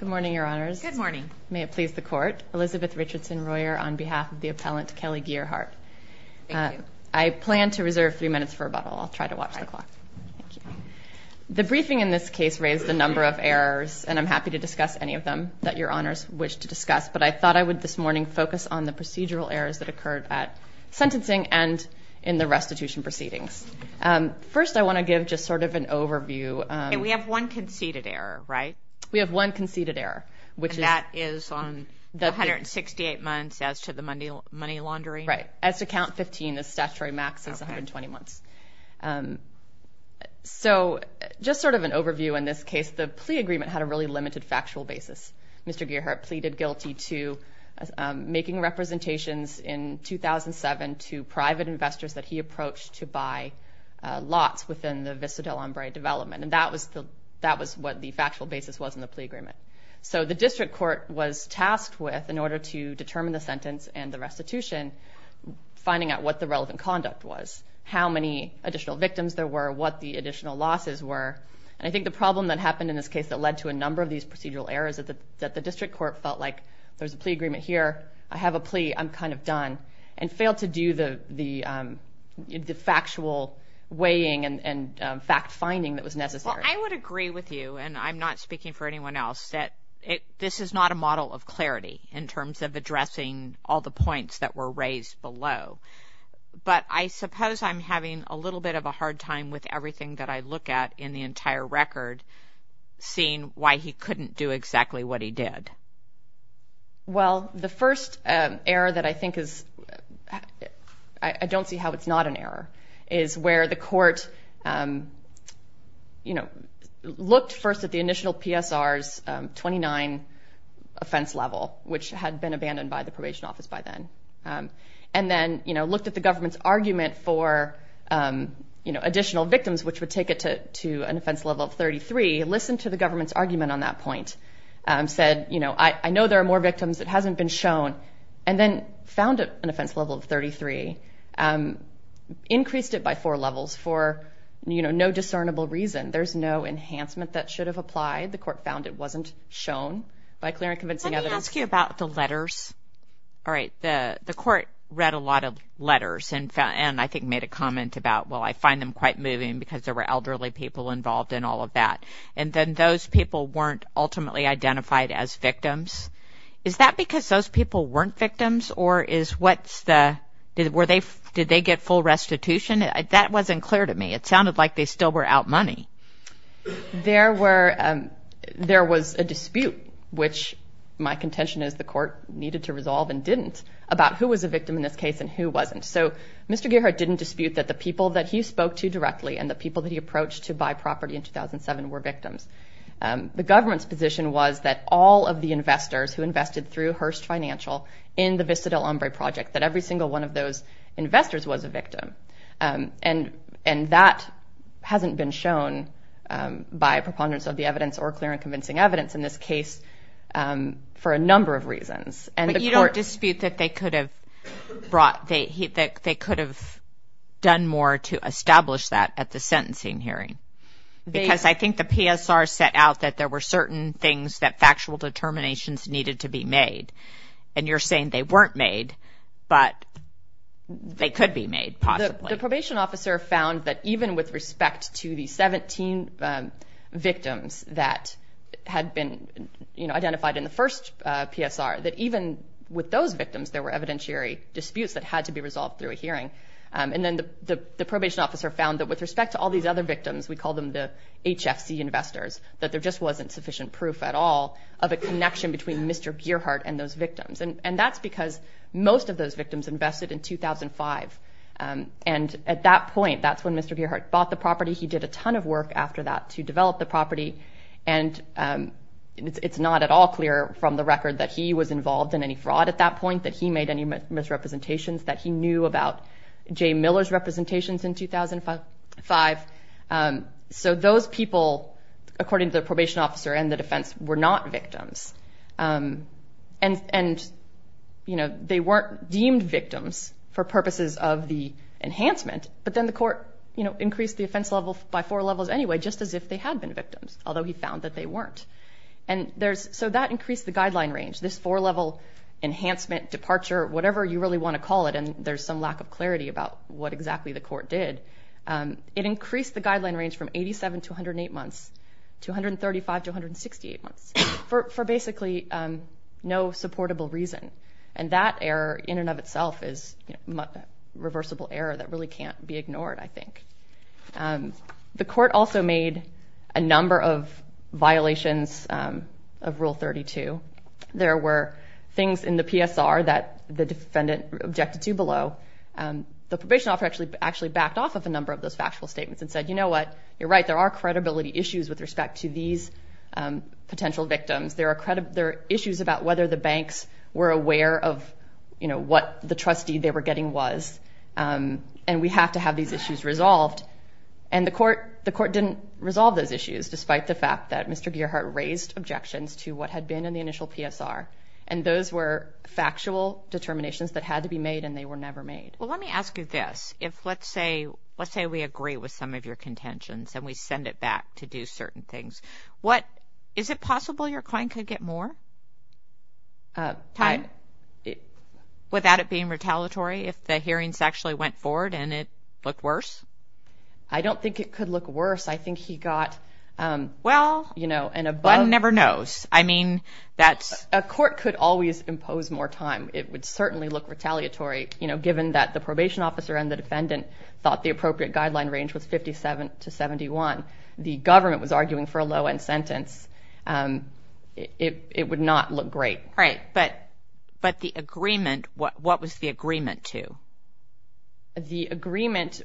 Good morning, your honors. Good morning. May it please the court. Elizabeth Richardson-Royer on behalf of the appellant Kelly Gearhart. I plan to reserve three minutes for rebuttal. I'll try to watch the clock. The briefing in this case raised a number of errors and I'm happy to discuss any of them that your honors wish to discuss, but I thought I would this morning focus on the procedural errors that occurred at sentencing and in the restitution proceedings. First I want to give just sort of an overview. And we have one conceded error, right? We have one conceded error. And that is on the 168 months as to the money laundering? Right. As to count 15, the statutory max is 120 months. So just sort of an overview in this case, the plea agreement had a really limited factual basis. Mr. Gearhart pleaded guilty to making representations in 2007 to private investors that he approached to buy lots within the Visa Del Ombre development. And that was what the factual basis was in the plea agreement. So the district court was tasked with, in order to determine the sentence and the restitution, finding out what the relevant conduct was, how many additional victims there were, what the additional losses were. And I think the problem that happened in this case that led to a number of these procedural errors that the district court felt like there's a plea agreement here, I have a plea, I'm kind of done, and failed to do the factual weighing and fact-finding that was necessary. I would agree with you, and I'm not speaking for anyone else, that this is not a model of clarity in terms of addressing all the points that were raised below. But I suppose I'm having a little bit of a hard time with everything that I look at in the entire record, seeing why he couldn't do exactly what he did. Well, the first error that I don't see how it's not an error, is where the court looked first at the initial PSR's 29 offense level, which had been abandoned by the probation office by then, and then looked at the government's argument for additional victims, which would take it to an offense level of 33, listened to the government's argument on that point, said, I know there are more increased it by four levels for, you know, no discernible reason. There's no enhancement that should have applied. The court found it wasn't shown by clear and convincing evidence. Let me ask you about the letters. All right, the the court read a lot of letters, and I think made a comment about, well, I find them quite moving because there were elderly people involved in all of that, and then those people weren't ultimately identified as victims. Is that because those people weren't victims, or is what's the, were they, did they get full restitution? That wasn't clear to me. It sounded like they still were out money. There were, there was a dispute, which my contention is the court needed to resolve and didn't, about who was a victim in this case and who wasn't. So Mr. Gearhart didn't dispute that the people that he spoke to directly and the people that he approached to buy property in 2007 were victims. The government's position was that all of the investors who invested through Hearst Financial in the Vista del Hombre project, that every single one of those investors was a victim, and, and that hasn't been shown by preponderance of the evidence or clear and convincing evidence in this case for a number of reasons. But you don't dispute that they could have brought, that they could have done more to establish that at the sentencing hearing? Because I think the PSR set out that there were certain things that factual determinations needed to be made, and you're saying they weren't made, but they could be made possibly. The probation officer found that even with respect to the 17 victims that had been, you know, identified in the first PSR, that even with those victims there were evidentiary disputes that had to be resolved through a hearing. And then the, the, the probation officer found that with respect to all these other victims, we call them the HFC investors, that there just wasn't sufficient proof at all of a connection between Mr. Gearhart and those victims. And, and that's because most of those victims invested in 2005. And at that point, that's when Mr. Gearhart bought the property. He did a ton of work after that to develop the property, and it's not at all clear from the record that he was involved in any fraud at that point, that he made any misrepresentations, that he knew about Jay Miller's representations in 2005. So those people, according to the probation officer and the defense, were not victims. And, and, you know, they weren't deemed victims for purposes of the enhancement, but then the court, you know, increased the offense level by four levels anyway, just as if they had been victims, although he found that they weren't. And there's, so that increased the guideline range, this four-level enhancement, departure, whatever you really want to call it, and there's some the court did. It increased the guideline range from 87 to 108 months to 135 to 168 months for, for basically no supportable reason. And that error in and of itself is a reversible error that really can't be ignored, I think. The court also made a number of violations of Rule 32. There were things in the PSR that the defendant objected to below. The probation officer actually, actually backed off of a number of those factual statements and said, you know what, you're right, there are credibility issues with respect to these potential victims. There are issues about whether the banks were aware of, you know, what the trustee they were getting was, and we have to have these issues resolved. And the court, the court didn't resolve those issues, despite the fact that Mr. Gearhart raised objections to what had been in the initial PSR, and those were factual determinations that had to be made and they were never made. Well, let me ask you this. If, let's say, let's say we agree with some of your contentions and we send it back to do certain things, what, is it possible your client could get more time without it being retaliatory if the hearings actually went forward and it looked worse? I don't think it could look worse. I think he got, well, you know, and above... One never knows. I mean, that's... A court could always impose more time. It would certainly look retaliatory, you know, given that the probation officer and the defendant thought the appropriate guideline range was 57 to 71. The government was arguing for a low-end sentence. It would not look great. Right, but the agreement, what was the agreement to? The agreement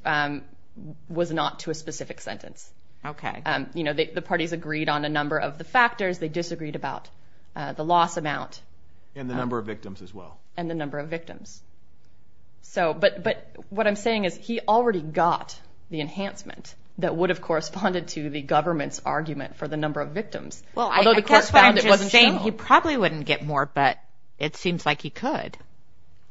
was not to a specific sentence. Okay. You know, the parties agreed on a number of the factors. They disagreed about the loss amount. And the number of victims as well. And the number of victims. So, but, but what I'm saying is he already got the enhancement that would have corresponded to the government's argument for the number of victims. Although the court found it wasn't true. He probably wouldn't get more, but it seems like he could.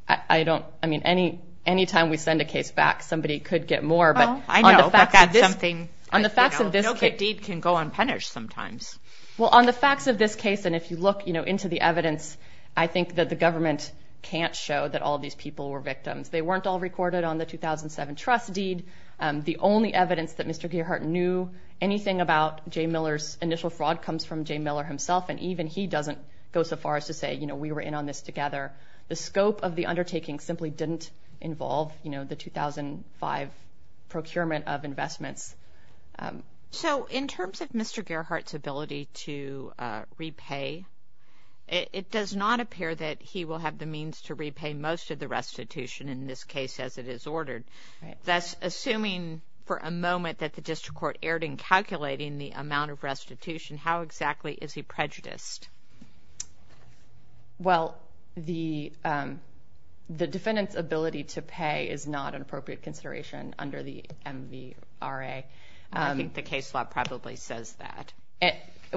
I don't, I mean, any, anytime we send a case back, somebody could get more, but... I know, but that's something... On the facts of this case... No good deed can go unpunished sometimes. Well, on the facts of this case, and if you look, you know, into the evidence, I think that the government can't show that all these people were victims. They weren't all recorded on the 2007 trust deed. The only evidence that Mr. Gearhart knew anything about Jay Miller's initial fraud comes from Jay Miller himself, and even he doesn't go so far as to say, you know, we were in on this together. The scope of the undertaking simply didn't involve, you know, the 2005 procurement of investments. So, in terms of Mr. Gearhart's ability to repay, it does not appear that he will have the means to repay most of the restitution, in this case, as it is ordered. Thus, assuming for a moment that the district court erred in calculating the amount of restitution, how exactly is he prejudiced? Well, the defendant's ability to pay is not an appropriate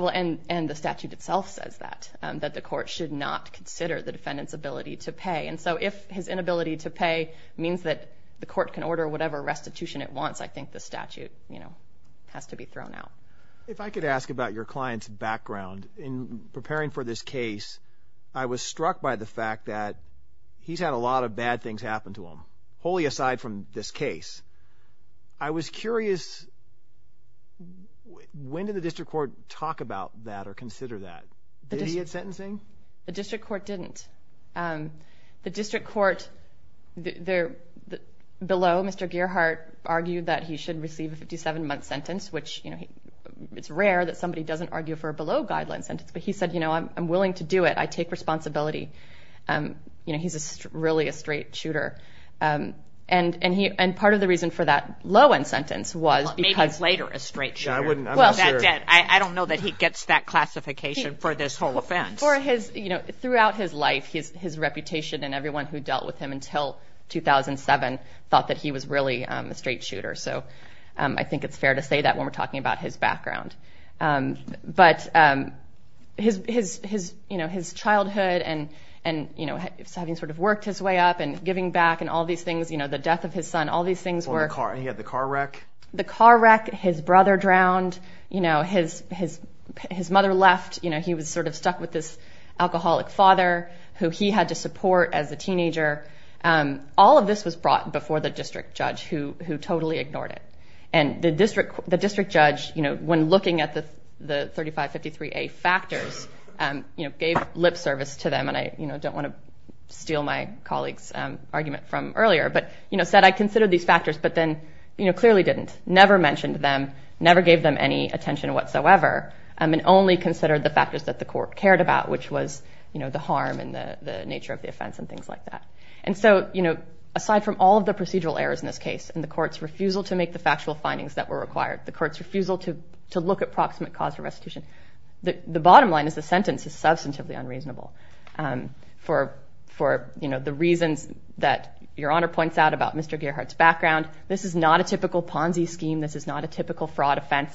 And the statute itself says that, that the court should not consider the defendant's ability to pay. And so, if his inability to pay means that the court can order whatever restitution it wants, I think the statute, you know, has to be thrown out. If I could ask about your client's background in preparing for this case, I was struck by the fact that he's had a lot of bad things happen to him, wholly aside from this case. I was curious, when did the district court talk about that or consider that? Did he get sentencing? The district court didn't. The district court, below Mr. Gearhart, argued that he should receive a 57-month sentence, which, you know, it's rare that somebody doesn't argue for a below-guideline sentence. But he said, you know, I'm willing to do it. I take responsibility. You know, he's really a straight shooter. And part of the reason for that low-end sentence was because... Maybe later a straight shooter. I don't know that he gets that classification for this whole offense. Throughout his life, his reputation and everyone who dealt with him until 2007 thought that he was really a straight shooter. So, I think it's fair to say that when we're talking about his background. But, you know, his childhood and, you know, having sort of worked his way up and giving back and all these things, you know, the death of his son, all these things around, you know, his mother left, you know, he was sort of stuck with this alcoholic father who he had to support as a teenager. All of this was brought before the district judge who totally ignored it. And the district judge, you know, when looking at the 3553A factors, you know, gave lip service to them. And I, you know, don't want to steal my colleague's argument from earlier, but, you know, said, I considered these factors, but then, you know, clearly didn't. Never mentioned them, never gave them any attention whatsoever, and only considered the factors that the court cared about, which was, you know, the harm and the nature of the offense and things like that. And so, you know, aside from all of the procedural errors in this case and the court's refusal to make the factual findings that were required, the court's refusal to look at proximate cause of restitution, the bottom line is the sentence is substantively unreasonable for, you know, the reasons that Your Honor points out about Mr. Gearhart's background. This is not a typical Ponzi scheme. This is not a typical fraud offense.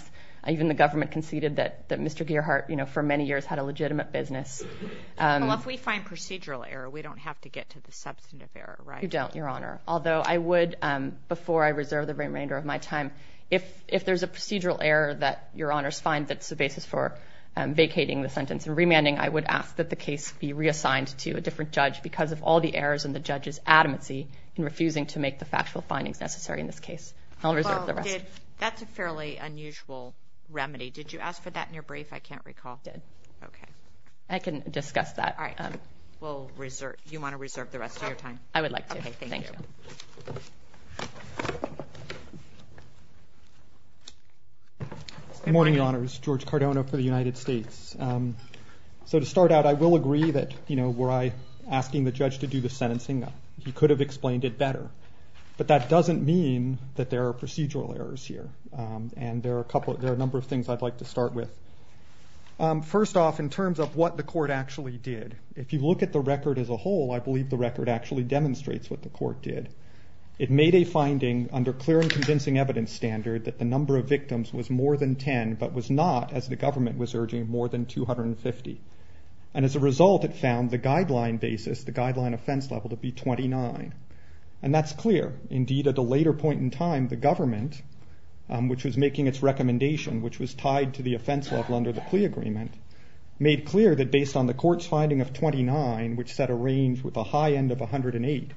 Even the government conceded that Mr. Gearhart, you know, for many years, had a legitimate business. Well, if we find procedural error, we don't have to get to the substantive error, right? You don't, Your Honor. Although I would, before I reserve the remainder of my time, if there's a procedural error that Your Honor's find that's the basis for vacating the sentence and remanding, I would ask that the case be reassigned to a different judge because of all the errors in the judge's adamancy in refusing to make the factual findings necessary in this case. I'll reserve the rest. That's a fairly unusual remedy. Did you ask for that in your brief? I can't recall. I did. Okay. I can discuss that. All right. We'll reserve. You want to reserve the rest of your time? I would like to. Okay. Thank you. Good morning, Your Honors. George Cardona for the United States. So to start out, I will agree that, you know, were I asking the judge to do sentencing, he could have explained it better. But that doesn't mean that there are procedural errors here. And there are a number of things I'd like to start with. First off, in terms of what the court actually did, if you look at the record as a whole, I believe the record actually demonstrates what the court did. It made a finding under clear and convincing evidence standard that the number of victims was more than 10, but was not, as the government was urging, more than 250. And as a result, it found the guideline basis, the guideline offense level, to be 29. And that's clear. Indeed, at a later point in time, the government, which was making its recommendation, which was tied to the offense level under the plea agreement, made clear that based on the court's finding of 29, which set a range with a high end of 108,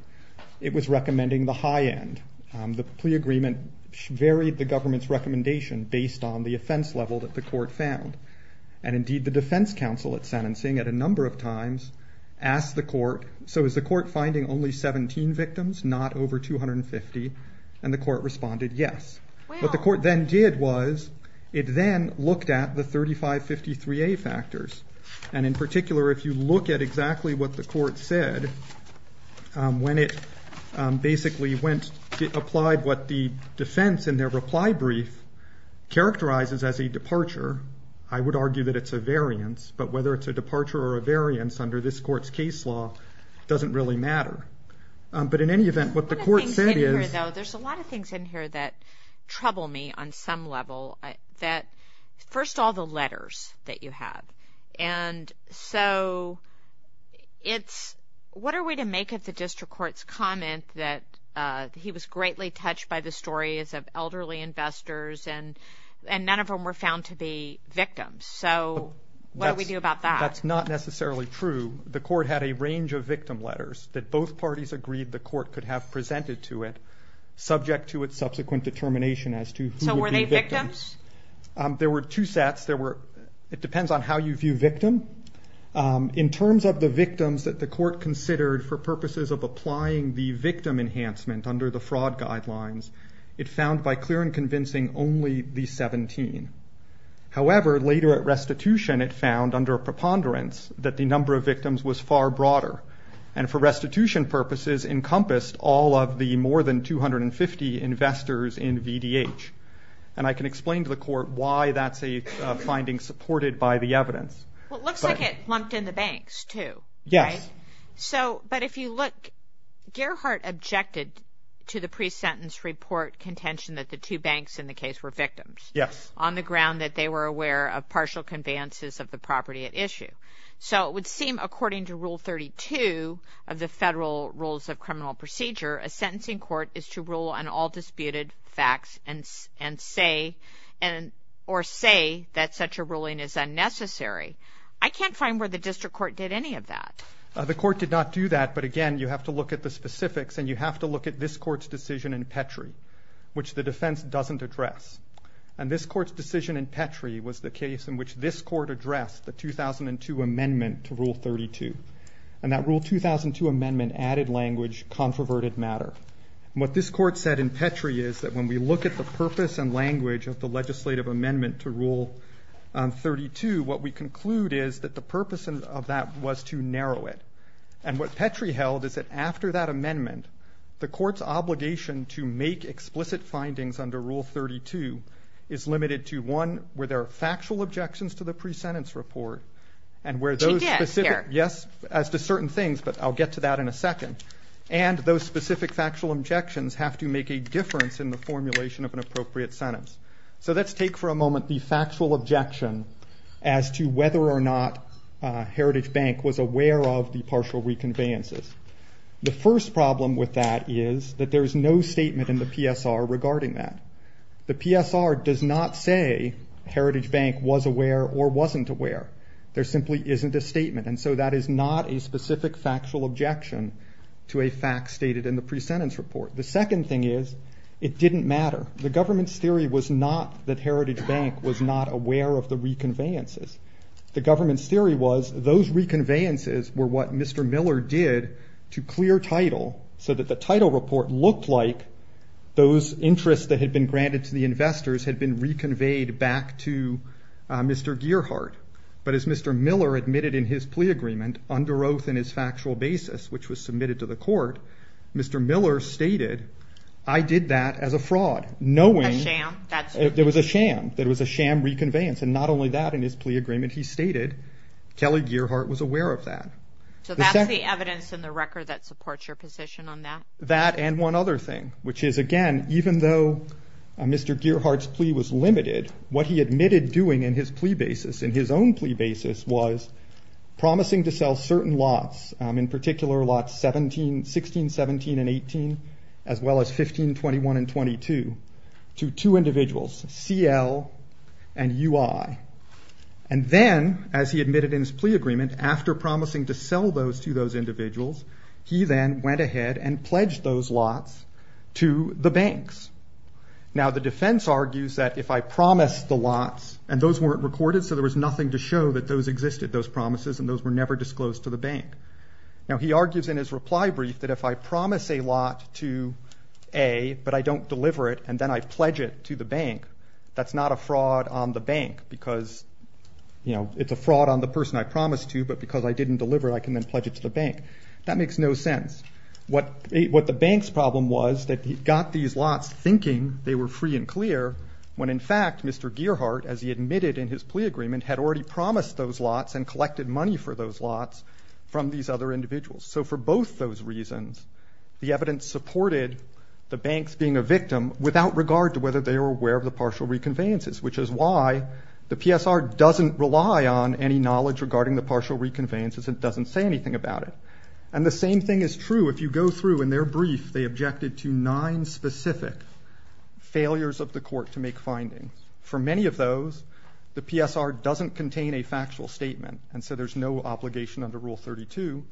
it was recommending the high end. The plea agreement varied the government's recommendation based on the offense level that the court found. And indeed, the defense counsel at sentencing, at a number of times, asked the court, so is the court finding only 17 victims, not over 250? And the court responded, yes. What the court then did was, it then looked at the 3553A factors. And in particular, if you look at exactly what the court said, when it basically went, applied what the defense in their reply brief characterizes as a departure, I would argue that it's a variance. But whether it's a departure or a variance under this court's case law, doesn't really matter. But in any event, what the One of the things in here, though, there's a lot of things in here that trouble me on some level. That, first of all, the letters that you have. And so, it's, what are we to make of the district court's comment that he was greatly touched by the stories of elderly investors, and none of them were found to be victims. So, what do we do about that? That's not necessarily true. The court had a range of victim letters that both parties agreed the court could have presented to it, subject to its subsequent determination as to who would be victims. So, were they victims? There were two sets. There were, it depends on how you view victim. In terms of the victims that the court considered for purposes of applying the victim enhancement under the fraud guidelines, it found by clear and However, later at restitution, it found under a preponderance that the number of victims was far broader. And for restitution purposes, encompassed all of the more than 250 investors in VDH. And I can explain to the court why that's a finding supported by the evidence. Well, it looks like it lumped in the banks, too. Yes. So, but if you look, Gerhardt objected to the pre-sentence report contention that the two banks in the case were victims. Yes. On the ground that they were aware of partial conveyances of the property at issue. So, it would seem according to Rule 32 of the Federal Rules of Criminal Procedure, a sentencing court is to rule on all disputed facts and say, or say that such a ruling is unnecessary. I can't find where the district court did any of that. The court did not do that. But again, you have to look at the specifics and you have to look at this court's decision in Petrie, which the defense doesn't address. And this court's decision in Petrie was the case in which this court addressed the 2002 amendment to Rule 32. And that Rule 2002 amendment added language, controverted matter. What this court said in Petrie is that when we look at the purpose and language of the legislative amendment to Rule 32, what we conclude is that the purpose of that was to narrow it. And what Petrie held is that after that amendment, the court's findings under Rule 32 is limited to one, where there are factual objections to the pre-sentence report, and where those specific, yes, as to certain things, but I'll get to that in a second, and those specific factual objections have to make a difference in the formulation of an appropriate sentence. So, let's take for a moment the factual objection as to whether or not Heritage Bank was aware of the partial reconveyances. The first problem with that is that there's no statement in the PSR regarding that. The PSR does not say Heritage Bank was aware or wasn't aware. There simply isn't a statement, and so that is not a specific factual objection to a fact stated in the pre-sentence report. The second thing is, it didn't matter. The government's theory was not that Heritage Bank was not aware of the reconveyances. The government's theory was, those reconveyances were what Mr. Miller did to clear title, so that the title report looked like those interests that had been granted to the investors had been reconveyed back to Mr. Gearhart. But as Mr. Miller admitted in his plea agreement, under oath in his factual basis, which was submitted to the court, Mr. Miller stated, I did that as a fraud, knowing... A sham, that's... There was a sham. There was a sham reconveyance, and not only that, in his plea agreement, he stated, Kelly Gearhart was aware of that. So that's the evidence in the record that supports your position on that? That, and one other thing, which is, again, even though Mr. Gearhart's plea was limited, what he admitted doing in his plea basis, in his own plea basis, was promising to sell certain lots, in particular lots 16, 17, and 18, as well as 15, 21, and 22 to two And then, as he admitted in his plea agreement, after promising to sell those to those individuals, he then went ahead and pledged those lots to the banks. Now, the defense argues that if I promised the lots, and those weren't recorded, so there was nothing to show that those existed, those promises, and those were never disclosed to the bank. Now, he argues in his reply brief, that if I promise a lot to A, but I don't deliver it, and then I pledge it to the bank, that's not a fraud on the bank, because it's a fraud on the person I promised to, but because I didn't deliver it, I can then pledge it to the bank. That makes no sense. What the bank's problem was, that he got these lots thinking they were free and clear, when in fact, Mr. Gearhart, as he admitted in his plea agreement, had already promised those lots, and collected money for those lots from these other individuals. So for both those reasons, the evidence supported the banks being a victim, without regard to whether they were aware of the partial reconveyances, which is why the PSR doesn't rely on any knowledge regarding the partial reconveyances, and doesn't say anything about it. And the same thing is true, if you go through, in their brief, they objected to nine specific failures of the court to make findings. For many of those, the PSR doesn't contain a factual statement, and so there's no obligation under Rule 32,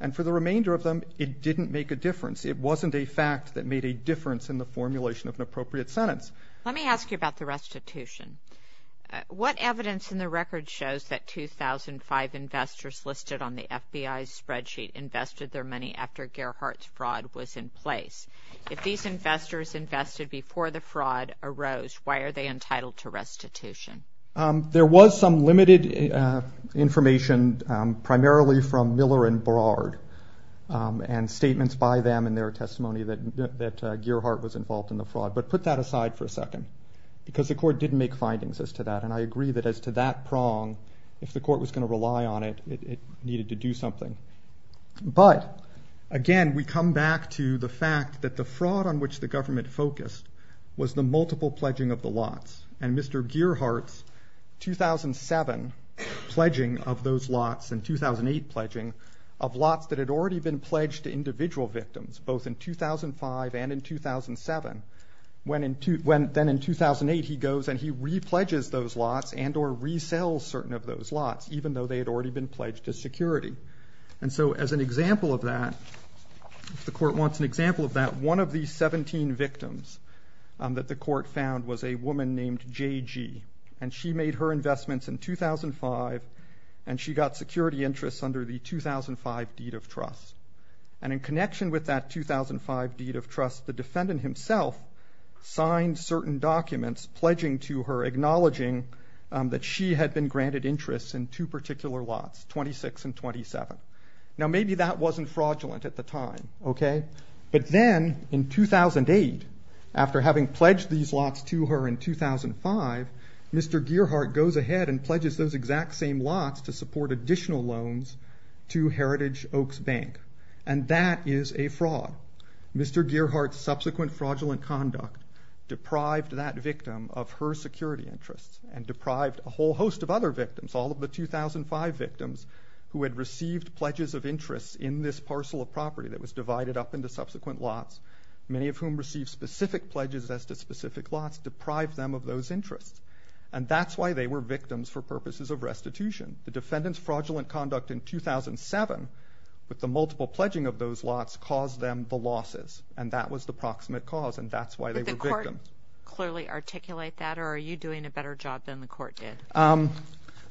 and for the remainder of the case, to make a difference. It wasn't a fact that made a difference in the formulation of an appropriate sentence. Let me ask you about the restitution. What evidence in the record shows that 2005 investors listed on the FBI's spreadsheet invested their money after Gearhart's fraud was in place? If these investors invested before the fraud arose, why are they entitled to restitution? There was some limited information, primarily from Miller and Bard, and statements by them in their testimony that Gearhart was involved in the fraud. But put that aside for a second, because the court didn't make findings as to that, and I agree that as to that prong, if the court was going to rely on it, it needed to do something. But, again, we come back to the fact that the fraud on which the government focused was the multiple pledging of the lots, and Mr. Gearhart's 2007 pledging of those pledging of lots that had already been pledged to individual victims, both in 2005 and in 2007. Then in 2008, he goes and he re-pledges those lots and or resells certain of those lots, even though they had already been pledged to security. And so, as an example of that, if the court wants an example of that, one of these 17 victims that the court found was a woman named JG, and she made her investments in 2005, and she got security interests under the 2005 deed of trust. And in connection with that 2005 deed of trust, the defendant himself signed certain documents pledging to her, acknowledging that she had been granted interests in two particular lots, 26 and 27. Now, maybe that wasn't fraudulent at the time, okay? But then, in 2008, after having pledged these lots to her in 2005, Mr. Gearhart goes ahead and pledges those exact same lots to support additional loans to Heritage Oaks Bank. And that is a fraud. Mr. Gearhart's subsequent fraudulent conduct deprived that victim of her security interests and deprived a whole host of other victims, all of the 2005 victims who had received pledges of interest in this parcel of property that was divided up into subsequent lots, many of whom received specific pledges as to specific lots, deprived them of those interests. And that's why they were victims for purposes of restitution. The defendant's fraudulent conduct in 2007, with the multiple pledging of those lots, caused them the losses, and that was the proximate cause, and that's why they were victims. But the court clearly articulate that, or are you doing a better job than the court did?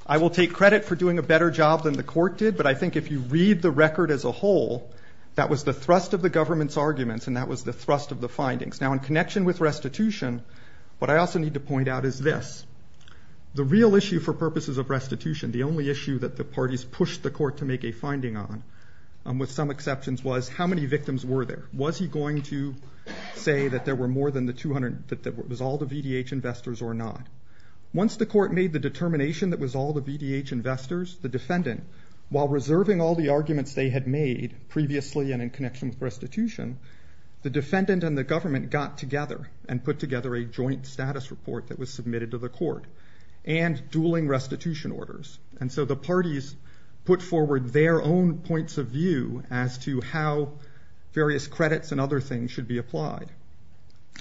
I will take credit for doing a better job than the court did, but I think if you read the record as a whole, that was the thrust of the government's arguments, and that was the thrust of the findings. Now in connection with restitution, what I also need to point out is this. The real issue for purposes of restitution, the only issue that the parties pushed the court to make a finding on, with some exceptions, was how many victims were there? Was he going to say that there were more than the 200, that it was all the VDH investors or not? Once the court made the determination that was all the VDH investors, the defendant, while reserving all the arguments they had made previously and in connection with the defendant and the government, got together and put together a joint status report that was submitted to the court, and dueling restitution orders. And so the parties put forward their own points of view as to how various credits and other things should be applied.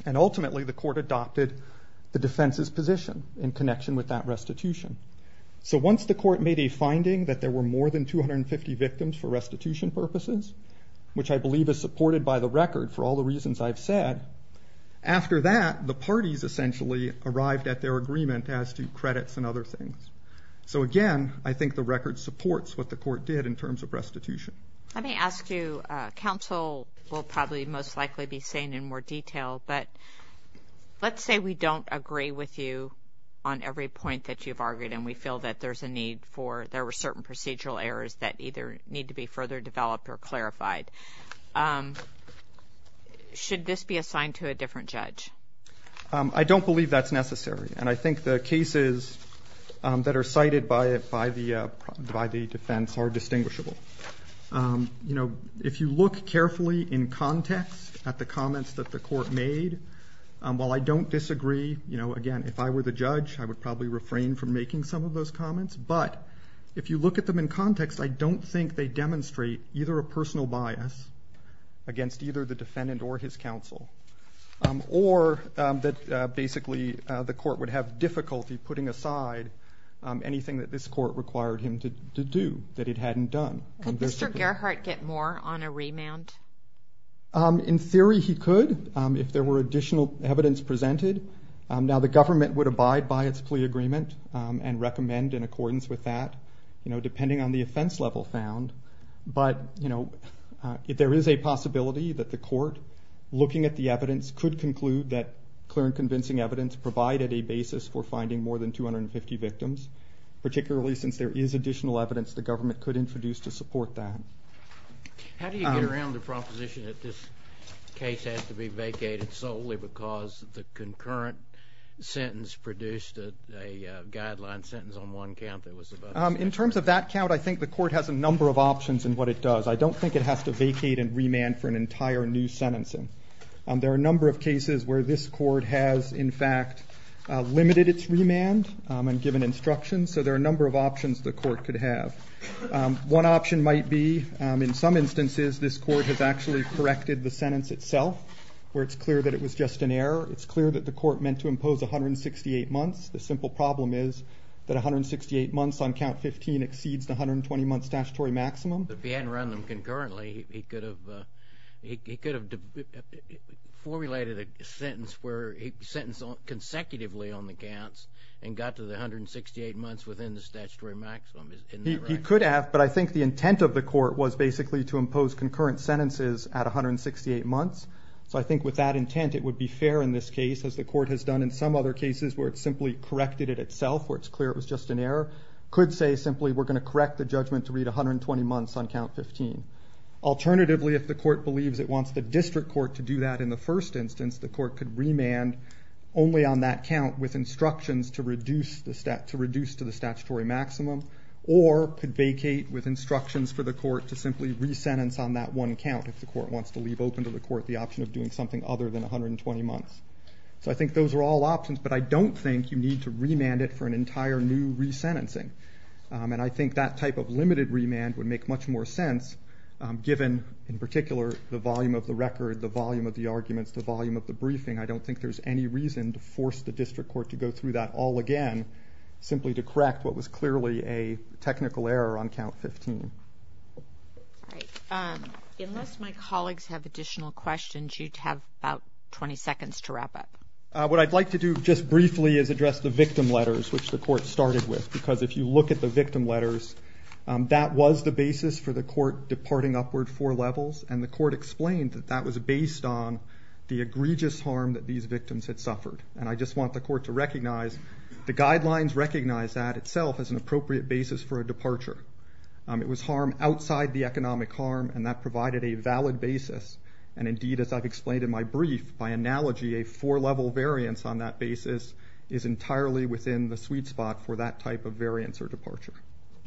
And ultimately, the court adopted the defense's position in connection with that restitution. So once the court made a finding that there were more than 250 victims for restitution purposes, which I believe is supported by the record for all the reasons I've said, after that, the parties essentially arrived at their agreement as to credits and other things. So again, I think the record supports what the court did in terms of restitution. Let me ask you, counsel will probably most likely be saying in more detail, but let's say we don't agree with you on every point that you've argued and we feel that there's a need for, there were certain procedural errors that either need to be further developed or clarified. Should this be assigned to a different judge? I don't believe that's necessary. And I think the cases that are cited by the defense are distinguishable. You know, if you look carefully in context at the comments that the court made, while I don't disagree, you know, again, if I were the judge, I would probably refrain from making some of those comments. But if you look at them in context, I don't think they demonstrate either a personal bias against either the defendant or his counsel, or that basically the court would have difficulty putting aside anything that this court required him to do that it hadn't done. Could Mr. Gerhart get more on a remand? In theory, he could, if there were additional evidence presented. Now the government would abide by its plea agreement and recommend in accordance with that, you know, depending on the offense level found. But, you know, if there is a possibility that the court, looking at the evidence, could conclude that clear and convincing evidence provided a basis for finding more than 250 victims, particularly since there is additional evidence the government could introduce to support that. How do you get around the proposition that this case has to be vacated solely because the concurrent sentence produced a guideline sentence on one count? In terms of that count, I think the court has a number of options in what it does. I don't think it has to vacate and remand for an entire new sentencing. There are a number of cases where this court has, in fact, limited its remand and given instructions. So there are a number of options the court could have. One option might be, in some instances, this court has actually redirected the sentence itself, where it's clear that it was just an error. It's clear that the court meant to impose 168 months. The simple problem is that 168 months on count 15 exceeds the 120-month statutory maximum. But if he hadn't run them concurrently, he could have formulated a sentence where he sentenced consecutively on the counts and got to the 168 months within the statutory maximum. He could have, but I think the intent of the court was basically to impose concurrent sentences at 168 months. So I think with that intent, it would be fair in this case, as the court has done in some other cases where it simply corrected it itself, where it's clear it was just an error. Could say simply, we're going to correct the judgment to read 120 months on count 15. Alternatively, if the court believes it wants the district court to do that in the first instance, the court could remand only on that count with instructions to reduce to the statutory maximum, or could vacate with simply re-sentence on that one count if the court wants to leave open to the court the option of doing something other than 120 months. So I think those are all options, but I don't think you need to remand it for an entire new re-sentencing. And I think that type of limited remand would make much more sense given, in particular, the volume of the record, the volume of the arguments, the volume of the briefing. I don't think there's any reason to force the district court to go through that all again, simply to correct what was right. Unless my colleagues have additional questions, you have about 20 seconds to wrap up. What I'd like to do just briefly is address the victim letters, which the court started with, because if you look at the victim letters, that was the basis for the court departing upward four levels, and the court explained that that was based on the egregious harm that these victims had suffered. And I just want the court to recognize the guidelines recognize that itself as an appropriate basis for a departure. It was harm outside the economic harm, and that provided a valid basis. And indeed, as I've explained in my brief, by analogy, a four level variance on that basis is entirely within the sweet spot for that type of variance or departure.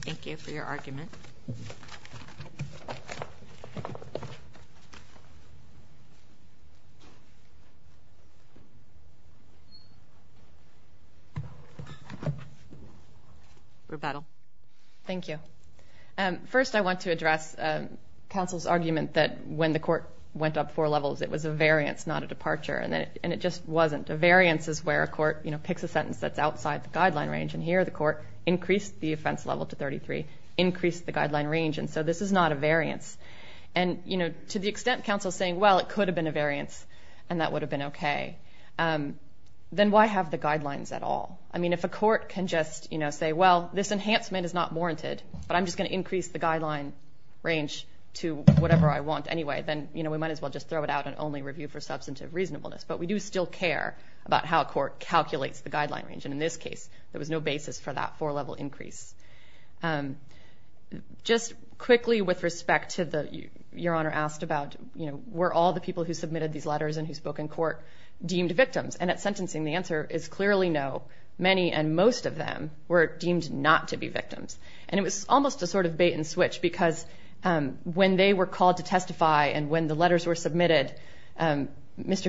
Thank you for your argument. Rebuttal. Thank you. First, I want to address counsel's argument that when the court went up four levels, it was a variance, not a departure, and it just wasn't. A variance is where a court, you know, picks a sentence that's outside the guideline range, and here the court increased the offense level to the guideline range, and so this is not a variance. And, you know, to the extent counsel's saying, well, it could have been a variance, and that would have been okay, then why have the guidelines at all? I mean, if a court can just, you know, say, well, this enhancement is not warranted, but I'm just going to increase the guideline range to whatever I want anyway, then, you know, we might as well just throw it out and only review for substantive reasonableness. But we do still care about how a court calculates the guideline range, and in this case, there was no basis for that four-level increase. Just quickly with respect to the, Your Honor asked about, you know, were all the people who submitted these letters and who spoke in court deemed victims? And at sentencing, the answer is clearly no. Many and most of them were deemed not to be victims, and it was almost a sort of bait-and-switch, because when they were called to testify and when the letters were submitted, Mr.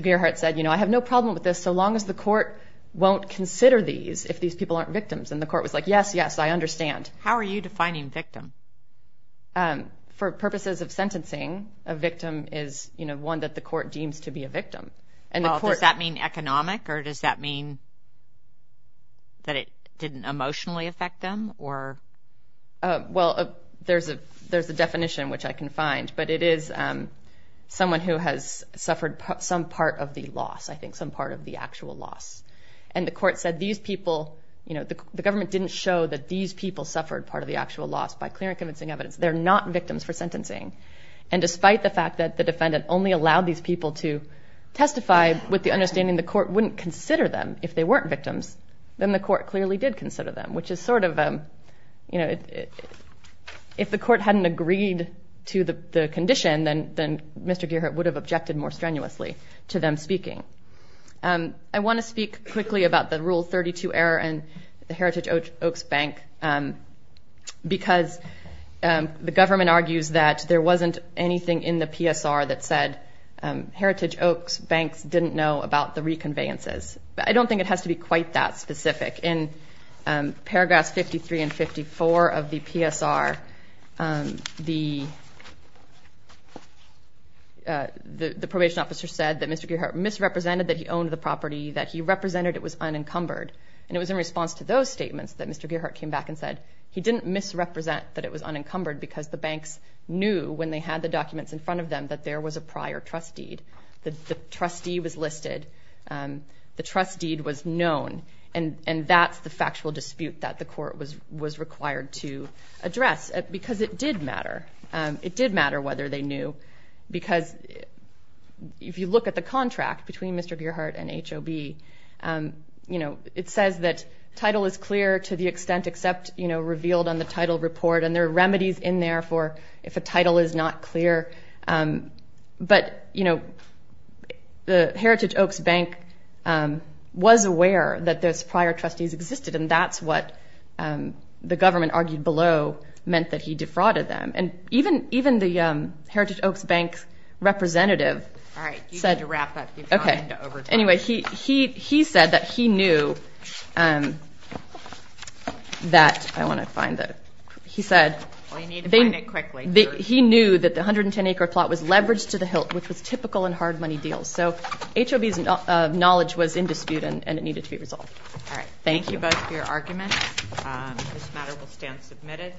Gearheart said, you know, I have no doubt that the court won't consider these if these people aren't victims. And the court was like, yes, yes, I understand. How are you defining victim? For purposes of sentencing, a victim is, you know, one that the court deems to be a victim. Well, does that mean economic, or does that mean that it didn't emotionally affect them, or? Well, there's a definition which I can find, but it is someone who has suffered some part of the loss, I think some part of the actual loss. And the court said these people, you know, the government didn't show that these people suffered part of the actual loss by clear and convincing evidence. They're not victims for sentencing. And despite the fact that the defendant only allowed these people to testify with the understanding the court wouldn't consider them if they weren't victims, then the court clearly did consider them, which is sort of, you know, if the court hadn't agreed to the condition, then Mr. Gearheart would have objected more strenuously to them speaking. I want to speak quickly about the Rule 32 error and the Heritage Oaks Bank, because the government argues that there wasn't anything in the PSR that said Heritage Oaks Banks didn't know about the reconveyances. I don't think it has to be quite that specific. In paragraphs 53 and 54 of the PSR, the court misrepresented that he owned the property, that he represented it was unencumbered. And it was in response to those statements that Mr. Gearheart came back and said he didn't misrepresent that it was unencumbered because the banks knew when they had the documents in front of them that there was a prior trust deed. The trustee was listed. The trust deed was known. And that's the factual dispute that the court was required to address, because it did matter whether they knew. Because if you look at the contract between Mr. Gearheart and HOB, you know, it says that title is clear to the extent except, you know, revealed on the title report. And there are remedies in there for if a title is not clear. But, you know, the Heritage Oaks Bank was aware that those prior trustees existed, and that's what the government argued below meant that he defrauded them. And even the Heritage Oaks Bank's representative said... All right, you need to wrap up. You've gone into overtime. Okay. Anyway, he said that he knew that... I want to find it. He said... Well, you need to find it quickly. He knew that the 110-acre plot was leveraged to the hilt, which was typical in hard money deals. So HOB's knowledge was in dispute, and it needed to be resolved. All right. Thank you. Thank you both for your arguments. This matter will stand submitted.